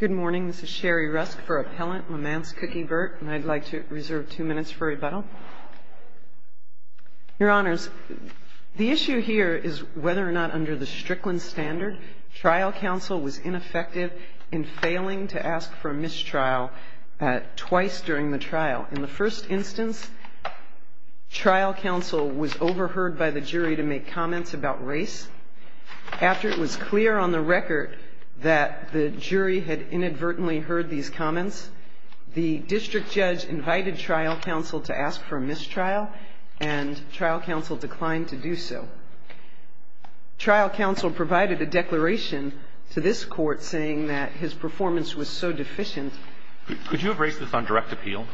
Good morning, this is Sherry Rusk for Appellant Lamance Cookie Bert, and I'd like to reserve two minutes for rebuttal. Your Honors, the issue here is whether or not under the Strickland standard, trial counsel was ineffective in failing to ask for a mistrial twice during the trial. In the first instance, trial counsel was overheard by the jury to make comments about race. After it was clear on the record that the jury had inadvertently heard these comments, the district judge invited trial counsel to ask for a mistrial, and trial counsel declined to do so. Trial counsel provided a declaration to this Court saying that his performance was so deficient. Could you have raised this on direct appeal?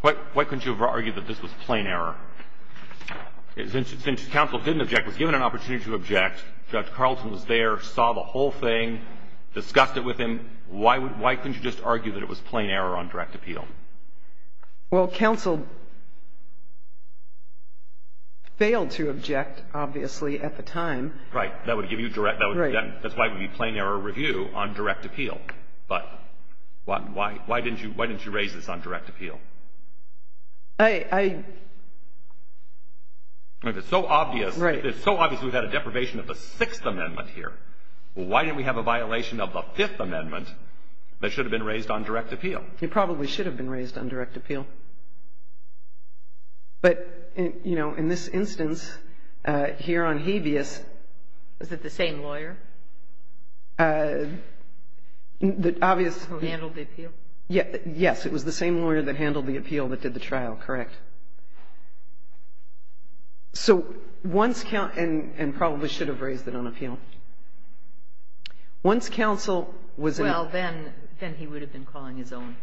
Why couldn't you have argued that this was plain error? Since counsel didn't object, was given an opportunity to object, Judge Carlson was there, saw the whole thing, discussed it with him. Why couldn't you just argue that it was plain error on direct appeal? Well, counsel failed to object, obviously, at the time. Right. That would give you direct – that's why it would be plain error review on direct appeal. But why didn't you raise this on direct appeal? If it's so obvious – Right. If it's so obvious we've had a deprivation of the Sixth Amendment here, why didn't we have a violation of the Fifth Amendment that should have been raised on direct appeal? It probably should have been raised on direct appeal. But, you know, in this instance, here on habeas – Is it the same lawyer? The obvious – Who handled the appeal? Yes. It was the same lawyer that handled the appeal. Handled the appeal that did the trial. Correct. So once – and probably should have raised it on appeal. Once counsel was in – Well, then he would have been calling his own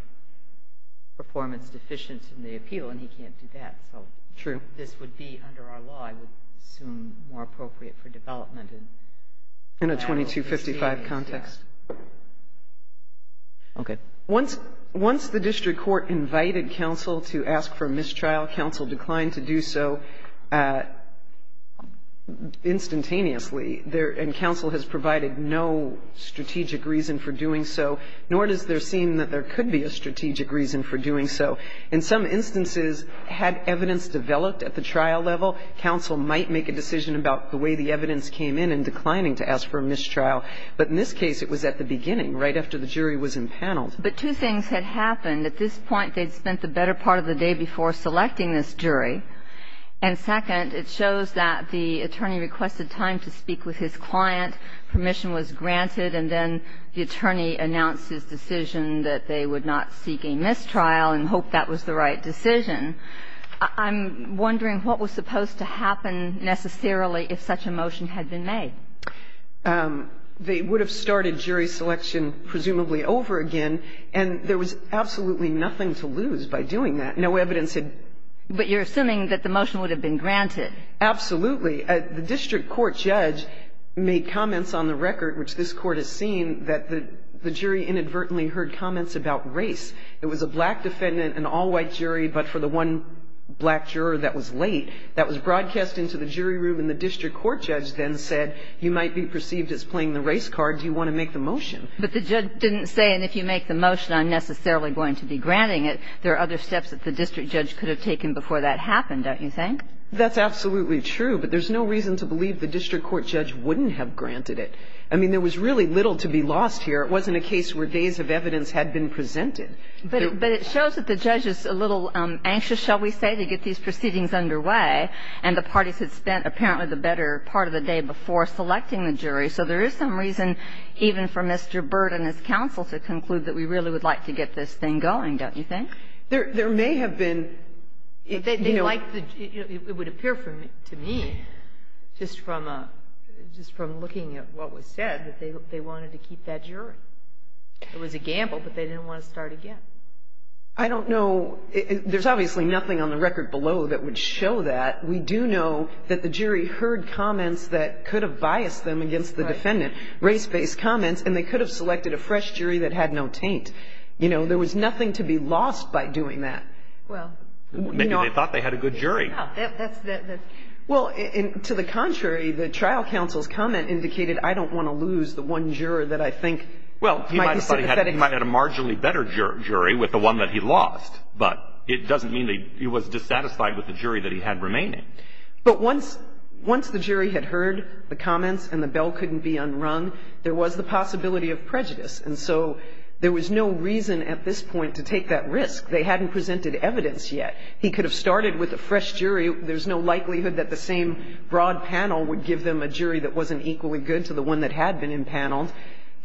performance deficient in the appeal, and he can't do that. True. So this would be, under our law, I would assume more appropriate for development. In a 2255 context. Okay. Once the district court invited counsel to ask for a mistrial, counsel declined to do so instantaneously. And counsel has provided no strategic reason for doing so, nor does there seem that there could be a strategic reason for doing so. In some instances, had evidence developed at the trial level, counsel might make a decision about the way the evidence came in in declining to ask for a mistrial. But in this case, it was at the beginning, right after the jury was impaneled. But two things had happened. At this point, they'd spent the better part of the day before selecting this jury. And second, it shows that the attorney requested time to speak with his client. Permission was granted, and then the attorney announced his decision that they would not seek a mistrial and hoped that was the right decision. I'm wondering what was supposed to happen necessarily if such a motion had been made. They would have started jury selection presumably over again, and there was absolutely nothing to lose by doing that. No evidence had been made. But you're assuming that the motion would have been granted. Absolutely. The district court judge made comments on the record, which this Court has seen, that the jury inadvertently heard comments about race. It was a black defendant, an all-white jury, but for the one black juror that was late. That was broadcast into the jury room, and the district court judge then said, you might be perceived as playing the race card. Do you want to make the motion? But the judge didn't say, and if you make the motion, I'm necessarily going to be granting it. There are other steps that the district judge could have taken before that happened, don't you think? That's absolutely true. But there's no reason to believe the district court judge wouldn't have granted it. I mean, there was really little to be lost here. It wasn't a case where days of evidence had been presented. But it shows that the judge is a little anxious, shall we say, to get these proceedings underway, and the parties had spent apparently the better part of the day before selecting the jury. So there is some reason even for Mr. Byrd and his counsel to conclude that we really would like to get this thing going, don't you think? There may have been, you know. It would appear to me, just from looking at what was said, that they wanted to keep that jury. It was a gamble, but they didn't want to start again. I don't know. There's obviously nothing on the record below that would show that. We do know that the jury heard comments that could have biased them against the defendant, race-based comments, and they could have selected a fresh jury that had no taint. You know, there was nothing to be lost by doing that. Maybe they thought they had a good jury. Well, to the contrary, the trial counsel's comment indicated, I don't want to lose the one juror that I think might be sympathetic. Well, he might have had a marginally better jury with the one that he lost, but it doesn't mean that he was dissatisfied with the jury that he had remaining. But once the jury had heard the comments and the bell couldn't be unrung, there was the possibility of prejudice. And so there was no reason at this point to take that risk. They hadn't presented evidence yet. He could have started with a fresh jury. There's no likelihood that the same broad panel would give them a jury that wasn't equally good to the one that had been impaneled.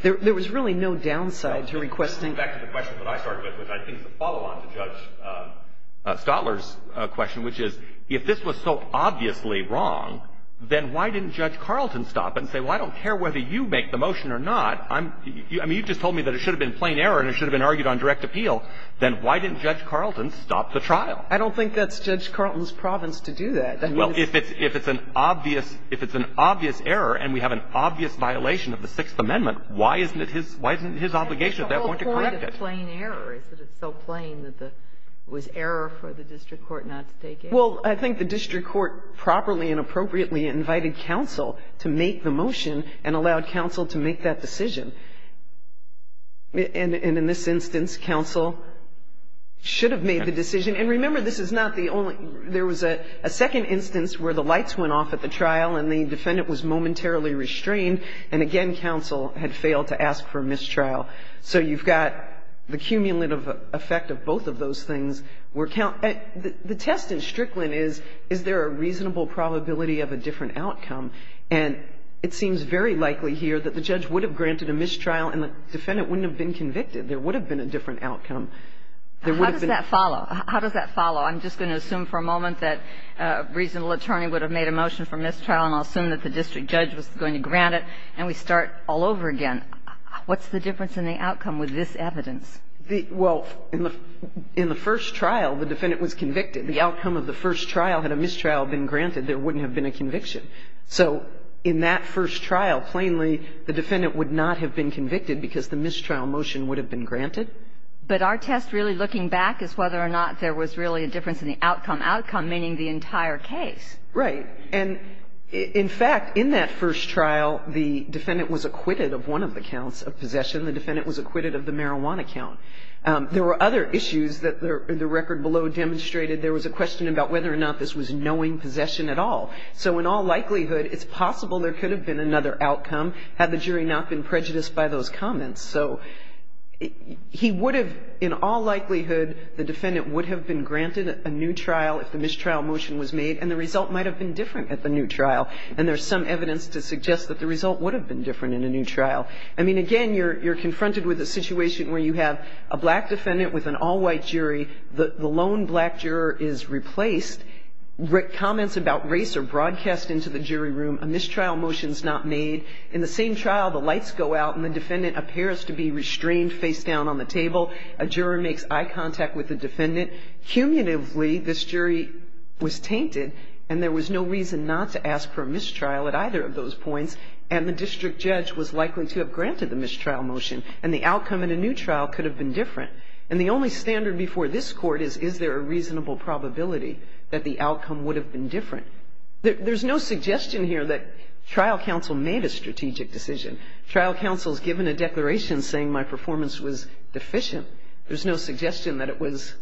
There was really no downside to requesting. Back to the question that I started with, which I think is a follow-on to Judge Stotler's question, which is, if this was so obviously wrong, then why didn't Judge Carlton stop and say, well, I don't care whether you make the motion or not. I mean, you just told me that it should have been plain error and it should have been argued on direct appeal. Then why didn't Judge Carlton stop the trial? I don't think that's Judge Carlton's province to do that. Well, if it's an obvious error and we have an obvious violation of the Sixth Amendment, why isn't it his obligation at that point to correct it? I think the whole point of plain error is that it's so plain that it was error for the district court not to take it. Well, I think the district court properly and appropriately invited counsel to make the motion and allowed counsel to make that decision. And in this instance, counsel should have made the decision. And remember, this is not the only – there was a second instance where the lights went off at the trial and the defendant was momentarily restrained. And again, counsel had failed to ask for a mistrial. So you've got the cumulative effect of both of those things. The test in Strickland is, is there a reasonable probability of a different outcome? And it seems very likely here that the judge would have granted a mistrial and the defendant wouldn't have been convicted. There would have been a different outcome. How does that follow? I'm just going to assume for a moment that a reasonable attorney would have made a motion for mistrial, and I'll assume that the district judge was going to grant it, and we start all over again. What's the difference in the outcome with this evidence? Well, in the first trial, the defendant was convicted. The outcome of the first trial, had a mistrial been granted, there wouldn't have been a conviction. So in that first trial, plainly, the defendant would not have been convicted because the mistrial motion would have been granted. But our test really looking back is whether or not there was really a difference in the outcome, outcome meaning the entire case. Right. And in fact, in that first trial, the defendant was acquitted of one of the counts of possession. The defendant was acquitted of the marijuana count. There were other issues that the record below demonstrated. There was a question about whether or not this was knowing possession at all. So in all likelihood, it's possible there could have been another outcome had the jury not been prejudiced by those comments. So he would have, in all likelihood, the defendant would have been granted a new trial if the mistrial motion was made, and the result might have been different at the new trial. And there's some evidence to suggest that the result would have been different in a new trial. I mean, again, you're confronted with a situation where you have a black defendant with an all-white jury. The lone black juror is replaced. Comments about race are broadcast into the jury room. A mistrial motion is not made. In the same trial, the lights go out and the defendant appears to be restrained face-down on the table. A juror makes eye contact with the defendant. Cumulatively, this jury was tainted, and there was no reason not to ask for a mistrial at either of those points, and the district judge was likely to have granted the mistrial motion, and the outcome in a new trial could have been different. And the only standard before this Court is, is there a reasonable probability that the outcome would have been different? There's no suggestion here that trial counsel made a strategic decision. Trial counsel's given a declaration saying my performance was deficient. There's no suggestion that it was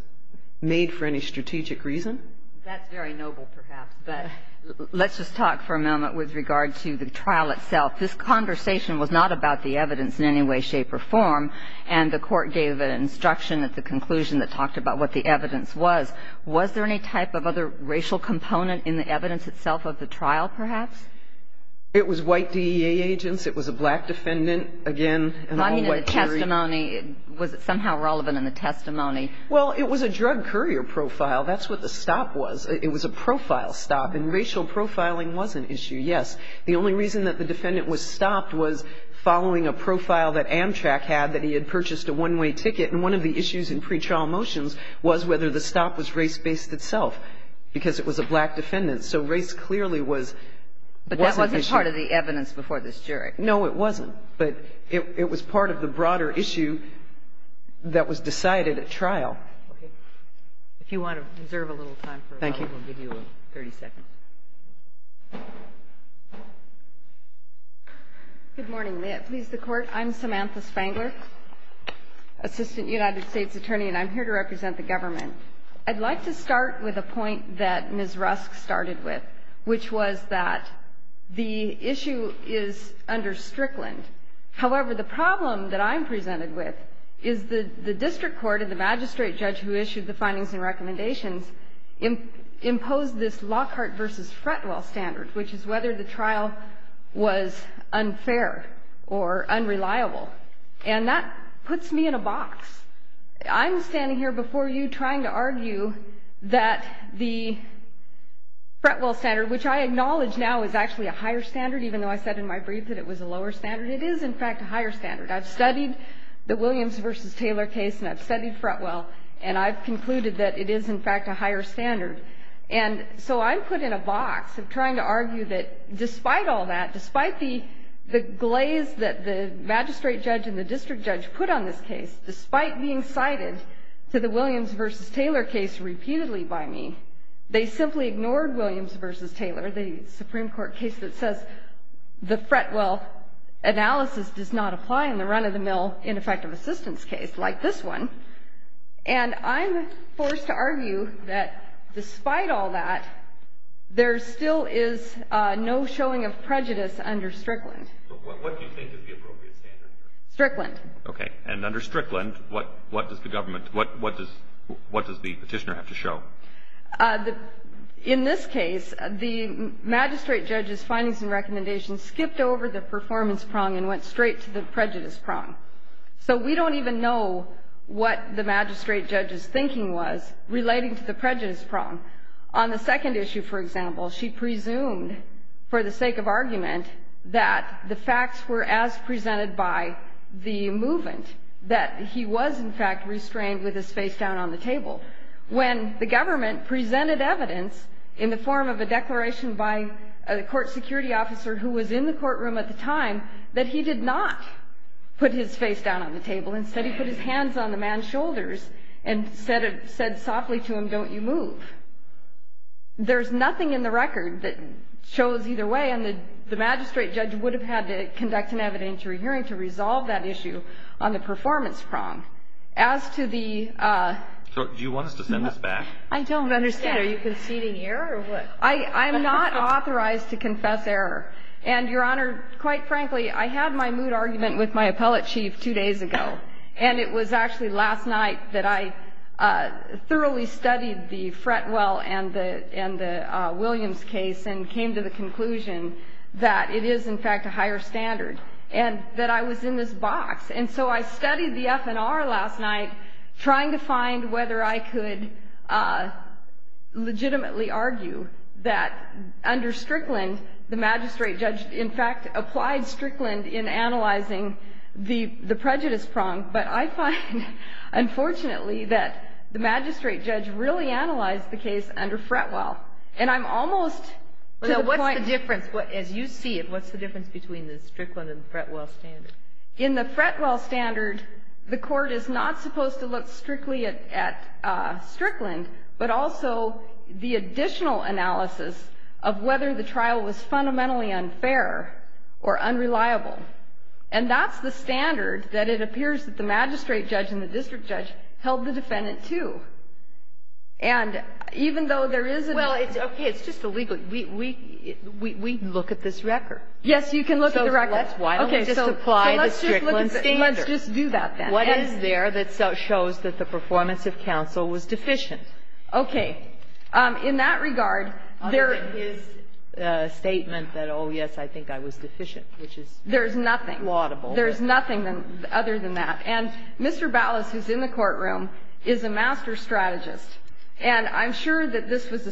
made for any strategic reason. That's very noble, perhaps. But let's just talk for a moment with regard to the trial itself. This conversation was not about the evidence in any way, shape or form, and the Court gave an instruction at the conclusion that talked about what the evidence was. Was there any type of other racial component in the evidence itself of the trial, perhaps? It was white DEA agents. It was a black defendant. Again, an all-white jury. I mean, in the testimony, was it somehow relevant in the testimony? Well, it was a drug courier profile. That's what the stop was. It was a profile stop, and racial profiling was an issue, yes. The only reason that the defendant was stopped was following a profile that Amtrak had that he had purchased a one-way ticket, and one of the issues in pretrial motions was whether the stop was race-based itself, because it was a black defendant. So race clearly was an issue. But that wasn't part of the evidence before this jury. No, it wasn't. But it was part of the broader issue that was decided at trial. Okay. If you want to reserve a little time for a moment, we'll give you 30 seconds. Good morning. May it please the Court. I'm Samantha Spangler, Assistant United States Attorney. And I'm here to represent the government. I'd like to start with a point that Ms. Rusk started with, which was that the issue is under Strickland. However, the problem that I'm presented with is the district court and the magistrate judge who issued the findings and recommendations imposed this Lockhart v. Fretwell standard, which is whether the trial was unfair or unreliable. And that puts me in a box. I'm standing here before you trying to argue that the Fretwell standard, which I acknowledge now is actually a higher standard, even though I said in my brief that it was a lower standard. It is, in fact, a higher standard. I've studied the Williams v. Taylor case, and I've studied Fretwell. And I've concluded that it is, in fact, a higher standard. And so I'm put in a box of trying to argue that despite all that, despite the glaze that the magistrate judge and the district judge put on this case, despite being cited to the Williams v. Taylor case repeatedly by me, they simply ignored Williams v. Taylor, the Supreme Court case that says the Fretwell analysis does not apply in the run-of-the-mill ineffective assistance case like this one. And I'm forced to argue that despite all that, there still is no showing of prejudice under Strickland. But what do you think is the appropriate standard? Strickland. Okay. And under Strickland, what does the petitioner have to show? In this case, the magistrate judge's findings and recommendations skipped over the performance prong and went straight to the prejudice prong. So we don't even know what the magistrate judge's thinking was relating to the prejudice prong. On the second issue, for example, she presumed, for the sake of argument, that the facts were as presented by the movement, that he was in fact restrained with his face down on the table. When the government presented evidence in the form of a declaration by a court security officer who was in the courtroom at the time, that he did not put his face down on the table. Instead, he put his hands on the man's shoulders and said softly to him, don't you move. There's nothing in the record that shows either way. And the magistrate judge would have had to conduct an evidentiary hearing to resolve that issue on the performance prong. As to the ---- So do you want us to send this back? I don't understand. Are you conceding error or what? I'm not authorized to confess error. And, Your Honor, quite frankly, I had my mood argument with my appellate chief two days ago. And it was actually last night that I thoroughly studied the Fretwell and the Williams case and came to the conclusion that it is, in fact, a higher standard. And that I was in this box. And so I studied the FNR last night trying to find whether I could legitimately argue that under Strickland the magistrate judge, in fact, applied Strickland in analyzing the prejudice prong. But I find, unfortunately, that the magistrate judge really analyzed the case under Fretwell. And I'm almost to the point ---- Well, now, what's the difference? As you see it, what's the difference between the Strickland and the Fretwell standard? In the Fretwell standard, the Court is not supposed to look strictly at Strickland, but also the additional analysis of whether the trial was fundamentally unfair or unreliable. And that's the standard that it appears that the magistrate judge and the district judge held the defendant to. And even though there is a ---- Well, it's okay. It's just a legal ---- we look at this record. Yes, you can look at the record. So why don't we just apply the Strickland standard? Let's just do that, then. What is there that shows that the performance of counsel was deficient? Okay. In that regard, there ---- Other than his statement that, oh, yes, I think I was deficient, which is ---- There's nothing. ----plaudible. There's nothing other than that. And Mr. Ballas, who's in the courtroom, is a master strategist. And I'm sure that this was a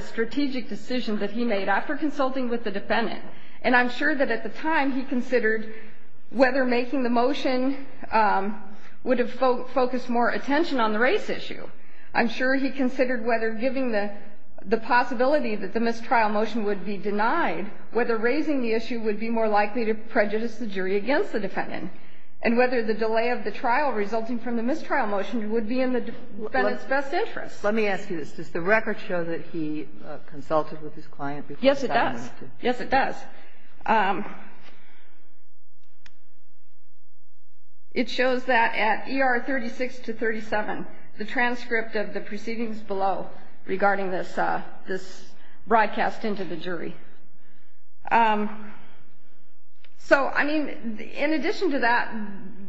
strategic decision that he made after consulting with the defendant. And I'm sure that at the time he considered whether making the motion would have focused more attention on the race issue. I'm sure he considered whether giving the possibility that the mistrial motion would be denied, whether raising the issue would be more likely to prejudice the jury against the defendant. And whether the delay of the trial resulting from the mistrial motion would be in the defendant's best interest. Let me ask you this. Does the record show that he consulted with his client before deciding to ---- Yes, it does. Yes, it does. It shows that at ER 36 to 37, the transcript of the proceedings below regarding this broadcast into the jury. So, I mean, in addition to that,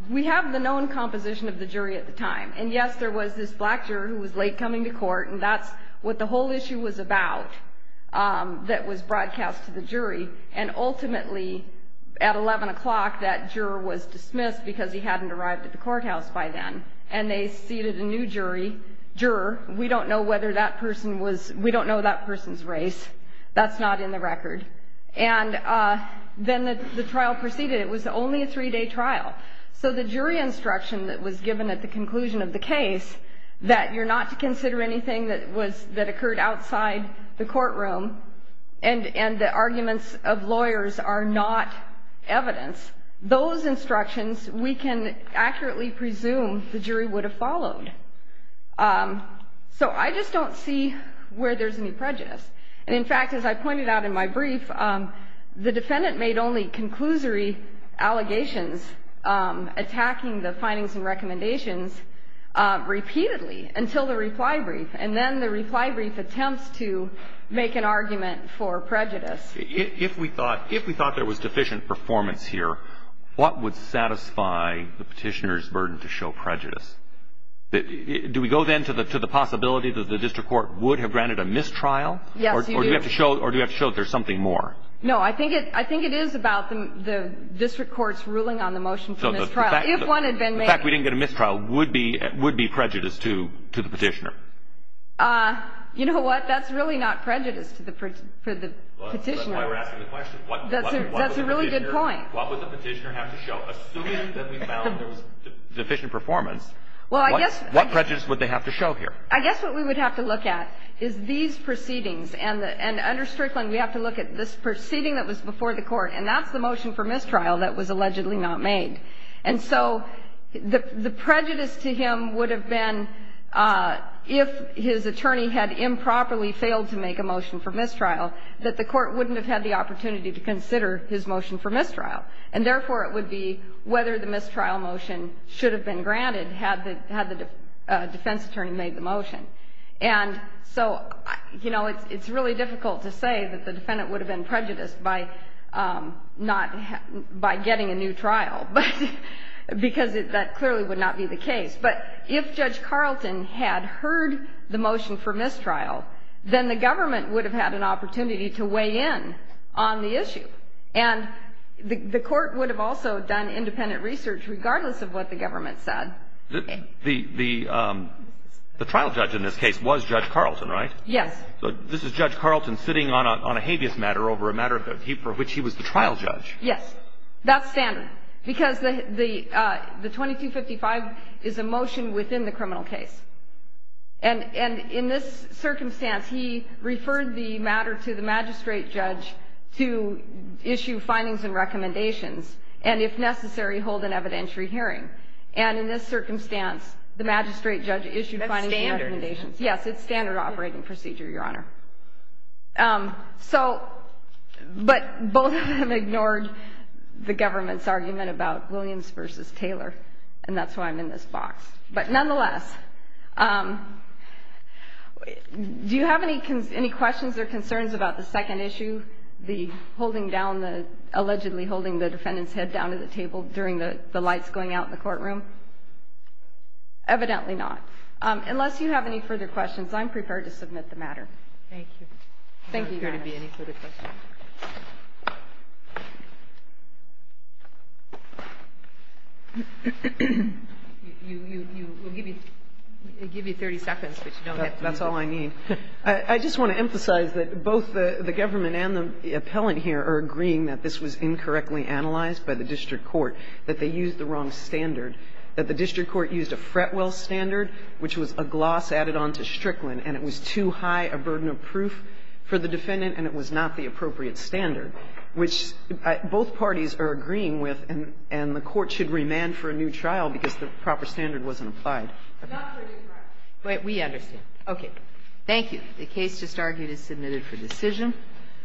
we have the known composition of the jury at the time. And, yes, there was this black juror who was late coming to court. And that's what the whole issue was about that was broadcast to the jury. And ultimately, at 11 o'clock, that juror was dismissed because he hadn't arrived at the courthouse by then. And they seated a new juror. We don't know whether that person was ---- we don't know that person's race. That's not in the record. And then the trial proceeded. It was only a three-day trial. So the jury instruction that was given at the conclusion of the case, that you're not to consider anything that occurred outside the courtroom, and the arguments of lawyers are not evidence, those instructions we can accurately presume the jury would have followed. So I just don't see where there's any prejudice. And, in fact, as I pointed out in my brief, the defendant made only conclusory allegations attacking the findings and recommendations repeatedly until the reply brief. And then the reply brief attempts to make an argument for prejudice. If we thought there was deficient performance here, what would satisfy the Petitioner's burden to show prejudice? Do we go then to the possibility that the district court would have granted a mistrial? Yes, you do. Or do we have to show that there's something more? No. I think it is about the district court's ruling on the motion for mistrial. If one had been made ---- The fact we didn't get a mistrial would be prejudice to the Petitioner. You know what? That's really not prejudice to the Petitioner. That's why we're asking the question. That's a really good point. What would the Petitioner have to show? Assuming that we found there was deficient performance, what prejudice would they have to show here? I guess what we would have to look at is these proceedings. And under Strickland, we have to look at this proceeding that was before the Court, and that's the motion for mistrial that was allegedly not made. And so the prejudice to him would have been, if his attorney had improperly failed to make a motion for mistrial, that the Court wouldn't have had the opportunity to consider his motion for mistrial. And therefore, it would be whether the mistrial motion should have been granted had the defense attorney made the motion. And so, you know, it's really difficult to say that the defendant would have been prejudiced by getting a new trial, because that clearly would not be the case. But if Judge Carlton had heard the motion for mistrial, then the government would have had an opportunity to weigh in on the issue. And the Court would have also done independent research, regardless of what the government said. The trial judge in this case was Judge Carlton, right? Yes. So this is Judge Carlton sitting on a habeas matter over a matter for which he was the trial judge. Yes. That's standard, because the 2255 is a motion within the criminal case. And in this circumstance, he referred the matter to the magistrate judge to issue findings and recommendations, and if necessary, hold an evidentiary hearing. And in this circumstance, the magistrate judge issued findings and recommendations. That's standard. Yes. It's standard operating procedure, Your Honor. But both of them ignored the government's argument about Williams v. Taylor, and that's why I'm in this box. But nonetheless, do you have any questions or concerns about the second issue, the holding down the, allegedly holding the defendant's head down to the table during the lights going out in the courtroom? Evidently not. Unless you have any further questions, I'm prepared to submit the matter. Thank you. Thank you, Your Honor. I'm not sure there will be any further questions. We'll give you 30 seconds, but you don't have to use it. That's all I need. I just want to emphasize that both the government and the appellant here are agreeing that this was incorrectly analyzed by the district court, that they used the wrong standard, that the district court used a Fretwell standard, which was a gloss added on to Strickland, and it was too high a burden of proof for the defendant, and it was not the appropriate standard, which both parties are agreeing with, and the Court should remand for a new trial because the proper standard wasn't applied. But we understand. Okay. Thank you. The case just argued is submitted for decision.